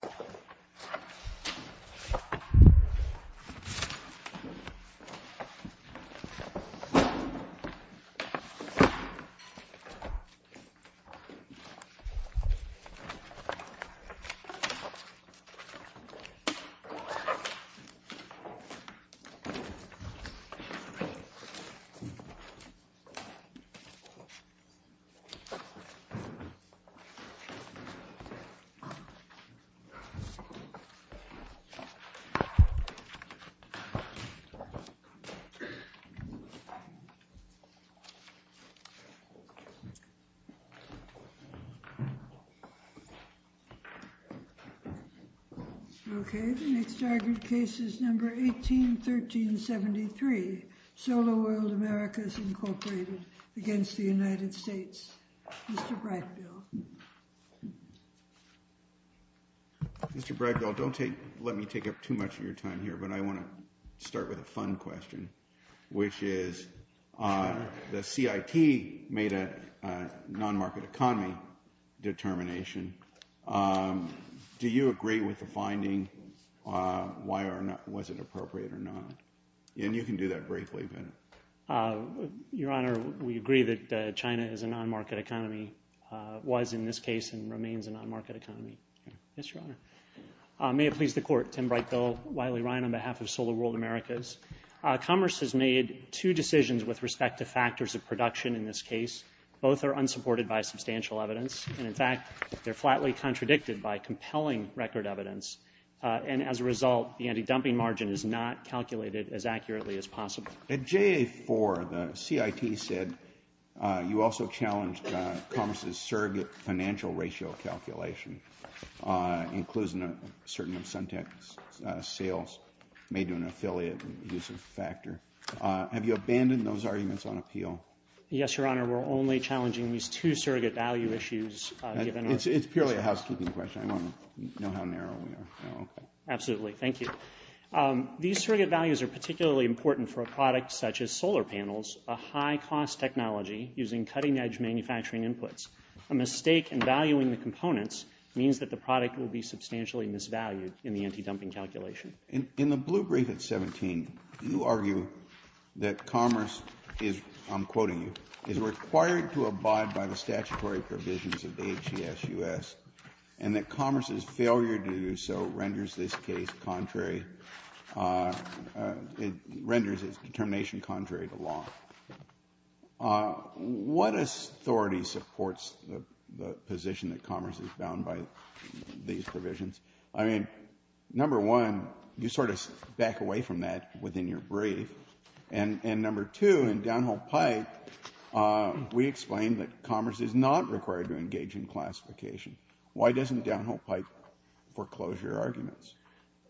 v. United States of America, United States of America, United States of America, United States of America, United States of America, United States of America, United States of America v. United States of America, United States of America, United States of America, Mr. Bragdell, don't let me take up too much of your time here, but I want to start with a fun question, which is, the CIT made a non-market economy determination. Do you agree with the finding, was it appropriate or not? And you can do that briefly. Your Honor, we agree that China is a non-market economy, was in this case and remains a non-market economy. Yes, Your Honor. May it please the Court, Tim Bragdell, Wiley Ryan on behalf of Solar World Americas. Commerce has made two decisions with respect to factors of production in this case. Both are unsupported by substantial evidence, and in fact, they're flatly contradicted by compelling record evidence, and as a result, the anti-dumping margin is not calculated as accurately as possible. At JA4, the CIT said you also challenged Commerce's surrogate financial ratio calculation, including a certain of Suntec's sales, made to an affiliate, and use of factor. Have you abandoned those arguments on appeal? Yes, Your Honor, we're only challenging these two surrogate value issues, given our... It's purely a housekeeping question. I want to know how narrow we are. Okay. Absolutely. Thank you. These surrogate values are particularly important for a product such as solar panels, a high-cost technology using cutting-edge manufacturing inputs. A mistake in valuing the components means that the product will be substantially misvalued in the anti-dumping calculation. In the blue brief at 17, you argue that Commerce is, I'm quoting you, is required to abide by the statutory provisions of HCSUS, and that Commerce's failure to do so renders this case contrary... It renders its determination contrary to law. What authority supports the position that Commerce is bound by these provisions? I mean, number one, you sort of back away from that within your brief, and number two, in Downhole Pike, we explain that Commerce is not required to engage in classification. Why doesn't Downhole Pike foreclose your arguments?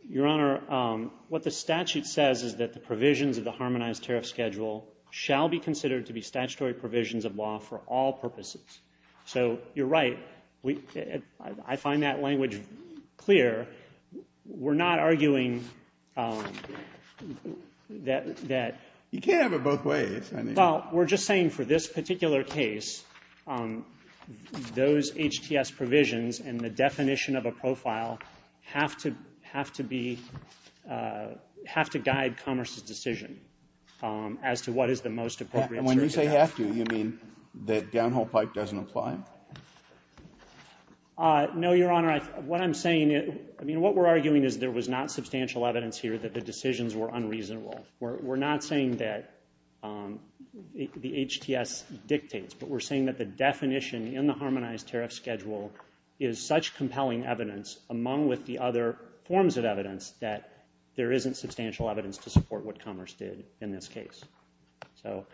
Your Honor, what the statute says is that the provisions of the Harmonized Tariff Schedule shall be considered to be statutory provisions of law for all purposes. So you're right. I find that language clear. We're not arguing that... You can't have it both ways. Well, we're just saying for this particular case, those HTS provisions and the definition of a profile have to be guide Commerce's decision as to what is the most appropriate... And when you say have to, you mean that Downhole Pike doesn't apply? No, Your Honor. What I'm saying... I mean, what we're arguing is there was not substantial evidence here that the decisions were unreasonable. We're not saying that the HTS dictates, but we're saying that the definition in the Harmonized Tariff Schedule is such compelling evidence, among with the other forms of evidence, that there isn't substantial evidence to support what Commerce did in this case. So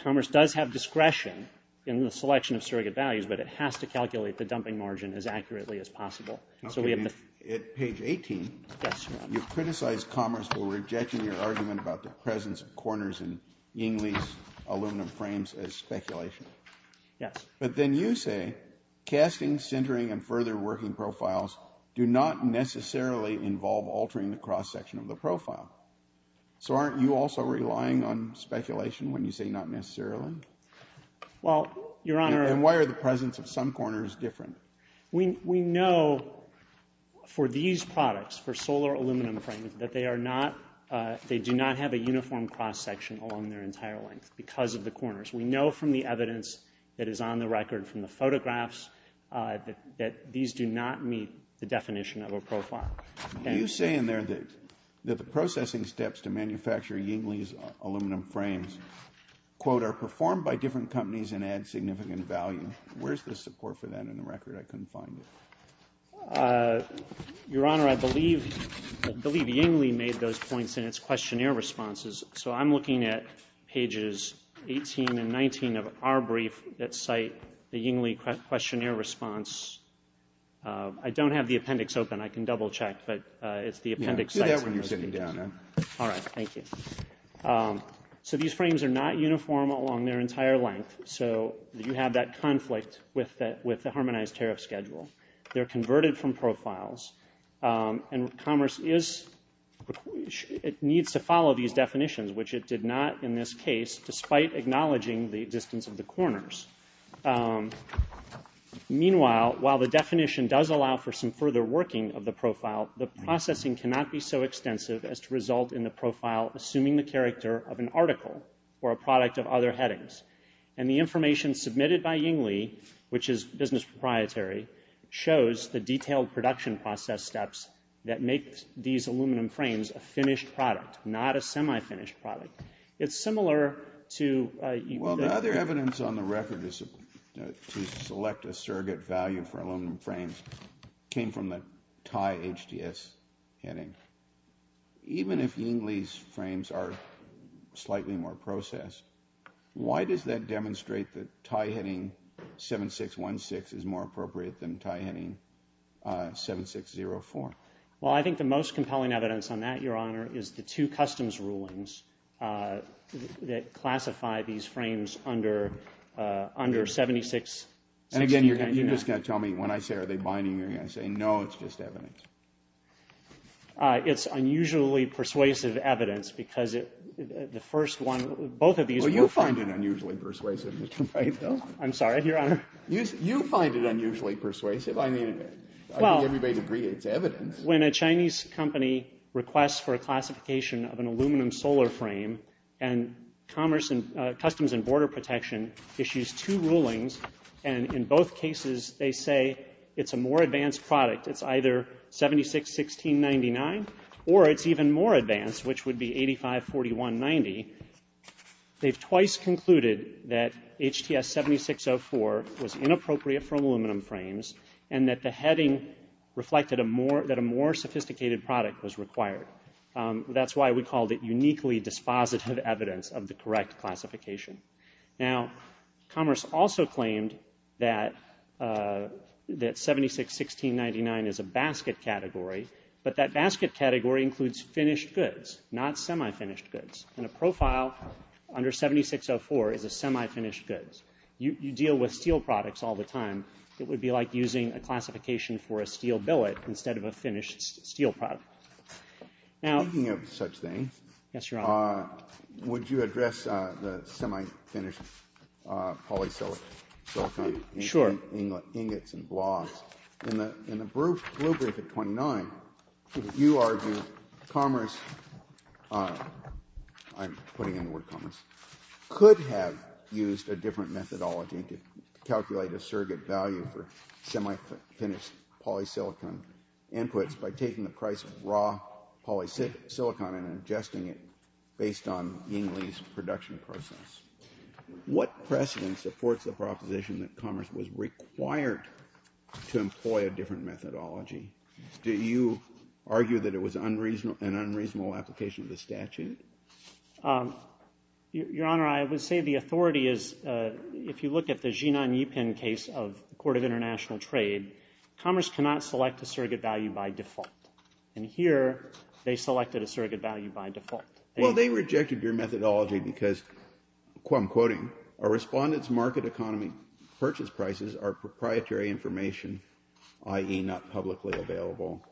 Commerce does have discretion in the selection of surrogate values, but it has to calculate the dumping margin as accurately as possible. So we have the... Okay. At page 18... Yes, Your Honor. You've criticized Commerce for rejecting your argument about the presence of corners in Ying Lee's aluminum frames as speculation. Yes. But then you say, casting, centering, and further working profiles do not necessarily involve altering the cross-section of the profile. So aren't you also relying on speculation when you say, not necessarily? Well, Your Honor... And why are the presence of some corners different? We know for these products, for solar aluminum frames, that they are not... They do not have a uniform cross-section along their entire length because of the corners. We know from the evidence that is on the record from the photographs that these do not meet the definition of a profile. And... You say in there that the processing steps to manufacture Ying Lee's aluminum frames, quote, are performed by different companies and add significant value. Where's the support for that in the record? I couldn't find it. Your Honor, I believe... I believe Ying Lee made those points in its questionnaire responses. So I'm looking at pages 18 and 19 of our brief that cite the Ying Lee questionnaire response. I don't have the appendix open. I can double-check, but it's the appendix... Do that when you're sitting down, then. All right. Thank you. So these frames are not uniform along their entire length. So you have that conflict with the harmonized tariff schedule. They're converted from profiles. And Commerce is... It needs to follow these definitions, which it did not in this case, despite acknowledging the distance of the corners. Meanwhile, while the definition does allow for some further working of the profile, the processing cannot be so extensive as to result in the profile assuming the character of an article or a product of other headings. And the information submitted by Ying Lee, which is business proprietary, shows the detailed production process steps that make these aluminum frames a finished product, not a semi-finished product. It's clear evidence on the record to select a surrogate value for aluminum frames came from the tie HDS heading. Even if Ying Lee's frames are slightly more processed, why does that demonstrate that tie-heading 7616 is more appropriate than tie-heading 7604? Well, I think the most compelling evidence on that, Your Honor, is the two customs rulings that classify these frames under 761699. And again, you're just going to tell me, when I say, are they binding, you're going to say, no, it's just evidence. It's unusually persuasive evidence, because the first one... Both of these... Well, you find it unusually persuasive, Mr. Mayfield. I'm sorry, Your Honor? You find it unusually persuasive. I mean, I think everybody would agree it's evidence. When a Chinese company requests for a classification of an aluminum solar frame, and Customs and Border Protection issues two rulings, and in both cases they say it's a more advanced product, it's either 761699, or it's even more advanced, which would be 854190, they've twice concluded that HDS 7604 was inappropriate for aluminum frames, and that the heading reflected that a more sophisticated product was required. That's why we called it uniquely dispositive evidence of the correct classification. Now, Commerce also claimed that 761699 is a basket category, but that basket category includes finished goods, not semi-finished goods. In a profile, under 7604 is a semi-finished goods. You deal with steel products all the time. It would be like using a classification for a steel billet instead of a finished steel product. Speaking of such things, would you address the semi-finished polysilicon ingots and blobs? In the blueprint at 29, you argue Commerce, I'm putting in the word Commerce, could have used a different methodology to calculate a surrogate value for semi-finished polysilicon inputs by taking the price of raw polysilicon and adjusting it based on Ying Lee's production process. What precedent supports the proposition that Commerce was required to employ a different methodology? Do you argue that it was an unreasonable application of the statute? Your Honor, I would say the authority is, if you look at the Jinan Yipin case of the Court of International Trade, Commerce cannot select a surrogate value by default. And here, they selected a surrogate value by default. Well, they rejected your methodology because, I'm quoting, a respondent's market economy purchase prices are proprietary information, i.e. not publicly available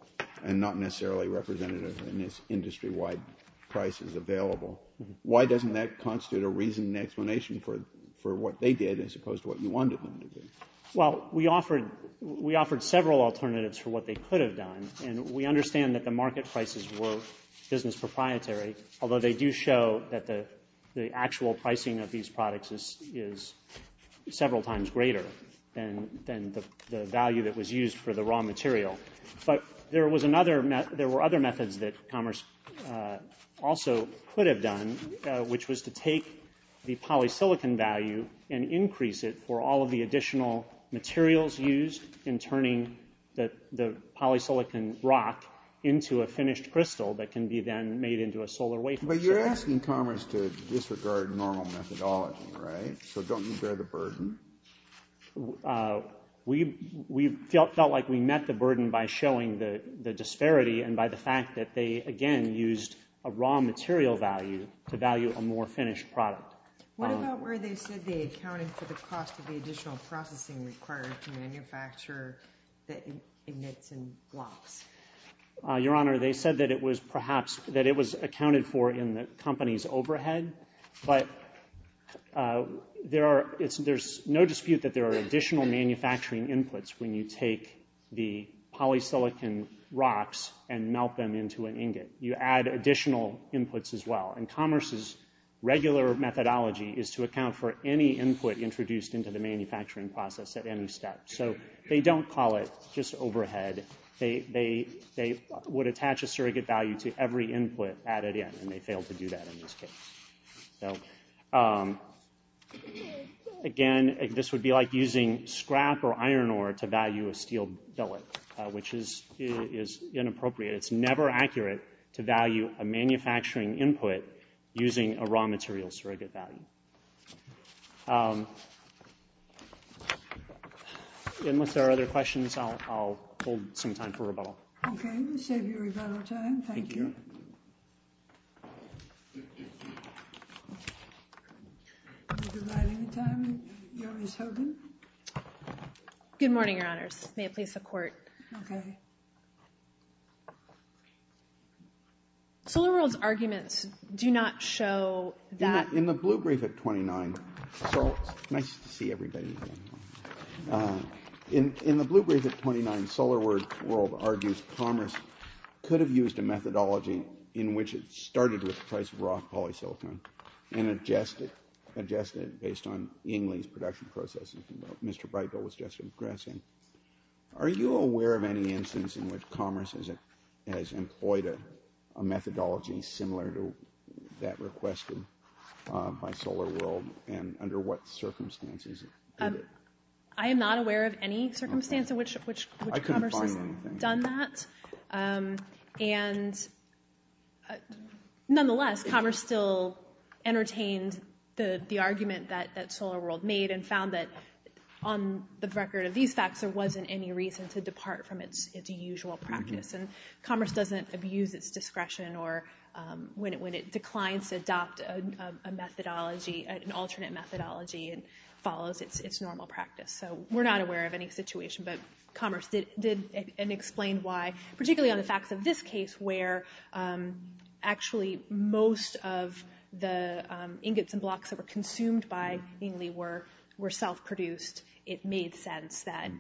and not necessarily representative in this industry-wide price is available. Why doesn't that constitute a reason and explanation for what they did as opposed to what you wanted them to do? Well, we offered several alternatives for what they could have done, and we understand that the market prices were business proprietary, although they do show that the actual pricing of these products is several times greater than the value that was used for the raw material. But there were other methods that Commerce also could have done, which was to take the polysilicon value and increase it for all of the additional materials used in turning the polysilicon rock into a finished crystal that can be then made into a solar wafer. But you're asking Commerce to disregard normal methodology, right? So don't you bear the burden? We felt like we met the burden by showing the disparity and by the fact that they, again, used a raw material value to value a more finished product. What about where they said they accounted for the cost of the additional processing required from a manufacturer that emits in blocks? Your Honor, they said that it was accounted for in the company's overhead, but there's no dispute that there are additional manufacturing inputs when you take the polysilicon rocks and melt them into an ingot. You add additional inputs as well, and Commerce's regular methodology is to account for any input introduced into the manufacturing process at any step. So they don't call it just overhead. They would attach a surrogate value to every input added in, and they failed to do that in this case. Again, this would be like using scrap or iron ore to value a steel billet, which is inappropriate. It's never accurate to value a manufacturing input using a raw material surrogate value. Unless there are other questions, I'll hold some time for rebuttal. Okay, we'll save you rebuttal time. Thank you. Thank you. Would you like any time, Joris Hogan? Good morning, Your Honors. May it please the Court. Okay. SolarWorld's arguments do not show that... In the blue brief at 29... It's nice to see everybody again. In the blue brief at 29, SolarWorld argues Commerce could have used a methodology in which it started with the price of raw polysilicon and adjusted it based on Ingley's production process, which Mr. Breitgold was just addressing. Are you aware of any instance in which Commerce has employed a methodology similar to that requested by SolarWorld, and under what circumstances? I am not aware of any circumstance in which Commerce has done that. Nonetheless, Commerce still entertained the argument that SolarWorld made and found that on the record of these facts, there wasn't any reason to depart from its usual practice. Commerce doesn't abuse its discretion when it declines to adopt an alternate methodology and follows its normal practice. So we're not aware of any situation, but Commerce did, and explained why, particularly on the facts of this case, where actually most of the ingots and blocks that were consumed by Ingley were self-produced. It made sense that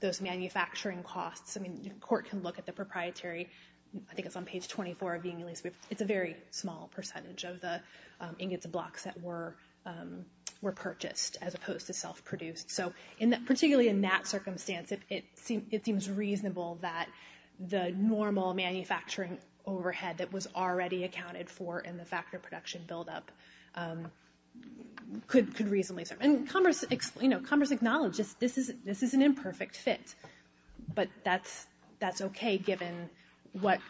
those manufacturing costs... I mean, the Court can look at the proprietary... I think it's on page 24 of the Ingley's brief. It's a very small percentage of the ingots and blocks that were purchased, as opposed to self-produced. So particularly in that circumstance, it seems reasonable that the normal manufacturing overhead that was already accounted for in the factory production build-up could reasonably serve. And Commerce acknowledged this is an imperfect fit, but that's okay, given what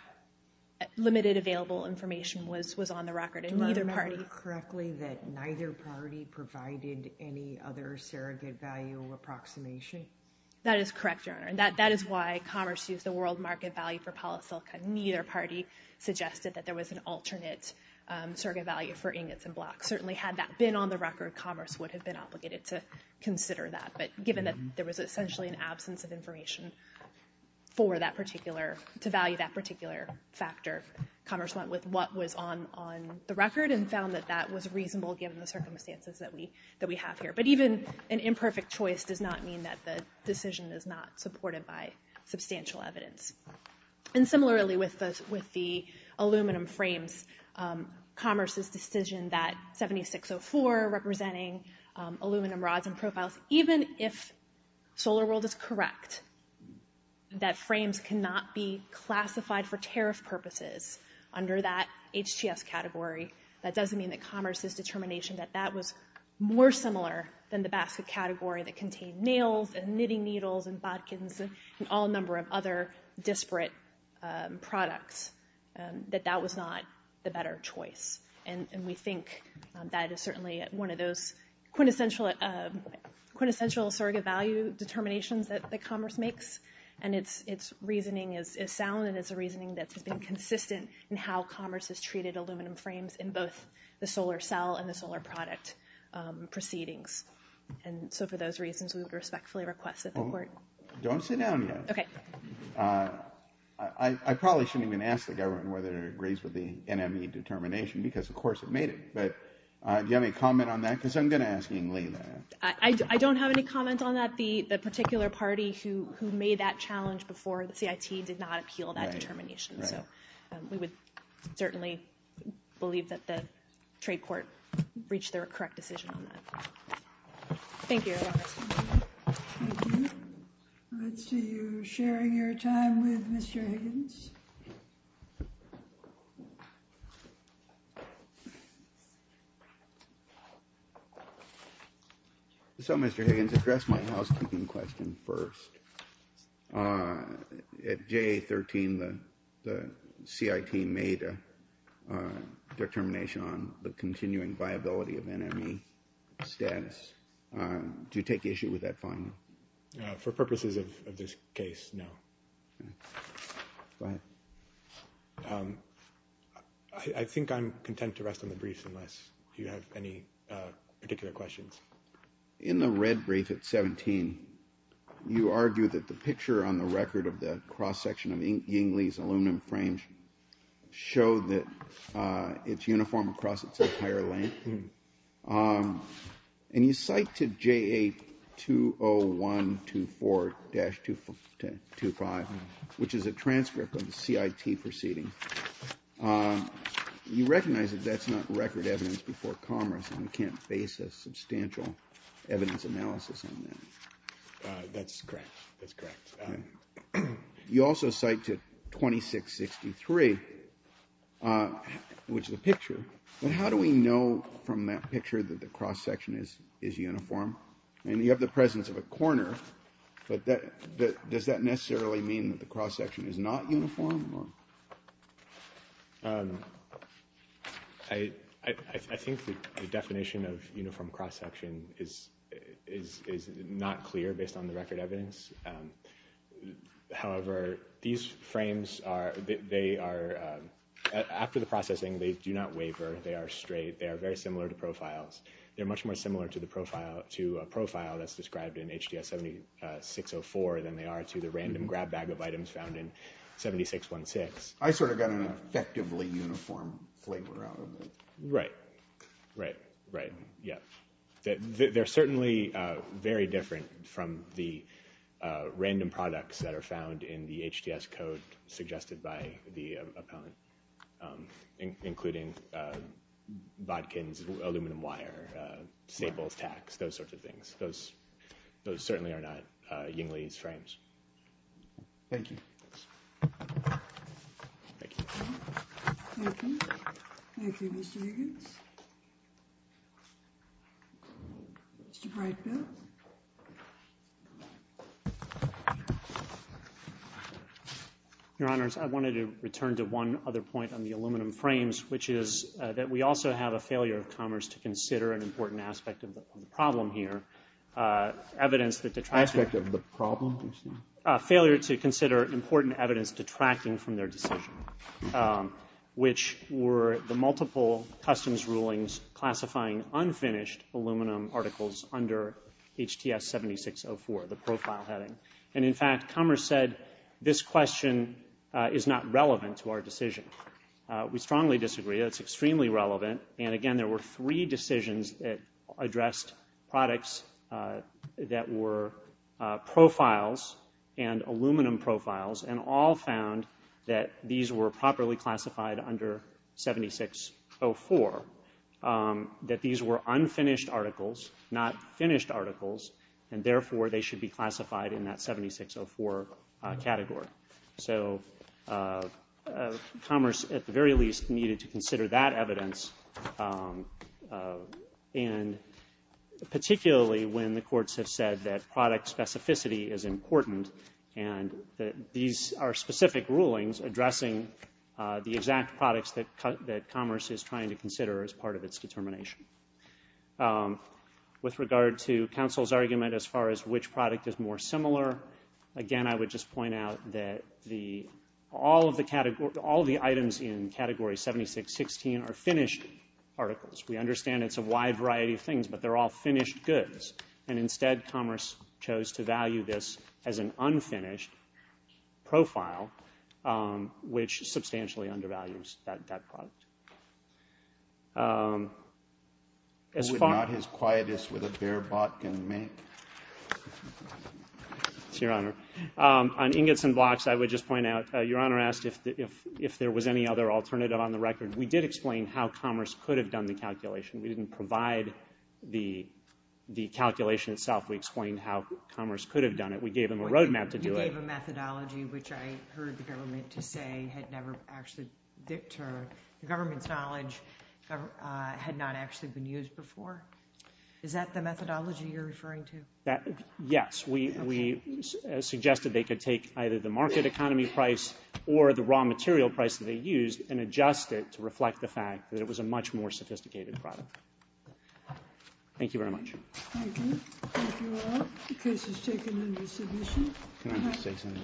limited available information was on the record, and neither party... Do I remember correctly that neither party provided any other surrogate value approximation? That is correct, Your Honor, and that is why Commerce used the world market value for polysilicon. Neither party suggested that there was an alternate surrogate value for ingots and blocks. Certainly had that been on the record, Commerce would have been obligated to consider that, but given that there was essentially an absence of information to value that particular factor, Commerce went with what was on the record and found that that was reasonable given the circumstances that we have here. But even an imperfect choice does not mean that the decision is not supported by substantial evidence. And similarly with the aluminum frames, Commerce's decision that 7604, representing aluminum rods and profiles, even if SolarWorld is correct that frames cannot be classified for tariff purposes under that HTS category, that doesn't mean that Commerce's determination that that was more similar than the basket category that contained nails and knitting needles and bodkins and all number of other disparate products, that that was not the better choice. And we think that is certainly one of those quintessential surrogate value determinations that Commerce makes. And its reasoning is sound and it's a reasoning that has been consistent in how Commerce has treated aluminum frames in both the solar cell and the solar product proceedings. And so for those reasons, we would respectfully request that the Court... Don't sit down yet. Okay. I probably shouldn't even ask the government whether it agrees with the NME determination because of course it made it. But do you have any comment on that? Because I'm going to ask you later. I don't have any comment on that. The particular party who made that challenge before the CIT did not appeal that determination. So we would certainly believe that the trade court reached their correct decision on that. Thank you. Thank you. I see you sharing your time with Mr. Higgins. So, Mr. Higgins, address my housekeeping question first. At JA-13, the CIT made a determination on the continuing viability of NME status. Do you take issue with that finding? For purposes of this case, no. Okay. Go ahead. I think I'm content to rest on the briefs Do you have any particular questions? In the red brief at 17, you argue that the picture on the record of the cross-section of Ying Lee's aluminum frame showed that it's uniform across its entire length. And you cite to JA-20124-25, which is a transcript of the CIT proceeding. You recognize that that's not record evidence before Congress and we can't base a substantial evidence analysis on that. That's correct. That's correct. You also cite to 2663, which is a picture. But how do we know from that picture that the cross-section is uniform? And you have the presence of a corner, but does that necessarily mean that the cross-section is not uniform? I think the definition of uniform cross-section is not clear based on the record evidence. However, these frames, after the processing, they do not waver. They are straight. They are very similar to profiles. They're much more similar to a profile that's described in HDS-7604 than they are to the random grab bag of items that are found in 7616. I sort of got an effectively uniform flavor out of it. Right, right, right, yeah. They're certainly very different from the random products that are found in the HDS code suggested by the appellant, including vodkins, aluminum wire, staples, tacks, those sorts of things. Those certainly are not Ying Lee's frames. Thank you. Thank you. Thank you. Thank you, Mr. Higgins. Mr. Brightfield. Your Honors, I wanted to return to one other point on the aluminum frames, which is that we also have a failure of commerce to consider an important aspect of the problem here, evidence that the traffic... Failure to consider important evidence detracting from their decision, which were the multiple customs rulings classifying unfinished aluminum articles under HDS-7604, the profile heading. And in fact, commerce said, this question is not relevant to our decision. We strongly disagree. It's extremely relevant. And again, there were three decisions that addressed products that were profiles and aluminum profiles and all found that these were properly classified under 7604, that these were unfinished articles, not finished articles, and therefore they should be classified in that 7604 category. So commerce, at the very least, needed to consider that evidence and particularly when the courts have said that product specificity is important and that these are specific rulings addressing the exact products that commerce is trying to consider as part of its determination. With regard to counsel's argument as far as which product is more similar, again, I would just point out that all of the items in Category 7616 are finished articles. We understand it's a wide variety of things, but they're all finished goods. And instead, commerce chose to value this as an unfinished profile, which substantially undervalues that product. Who would not his quietest with a beer bot can make? It's Your Honor. On ingots and blocks, I would just point out, Your Honor asked if there was any other alternative on the record. We did explain how commerce could have done the calculation. We didn't provide the calculation itself. We explained how commerce could have done it. We gave them a roadmap to do it. You gave a methodology which I heard the government to say had never actually dictated. The government's knowledge had not actually been used before. Is that the methodology you're referring to? Yes. We suggested they could take either the market economy price or the raw material price that they used and adjust it to reflect the fact that it was a much more sophisticated product. Thank you very much. Thank you. The case is taken under submission. Can I just say something?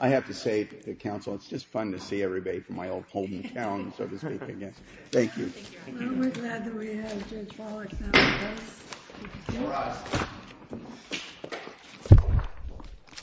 I have to say to the counsel, it's just fun to see everybody from my old home town, so to speak. Thank you. We're glad that we have Judge Wallach now with us.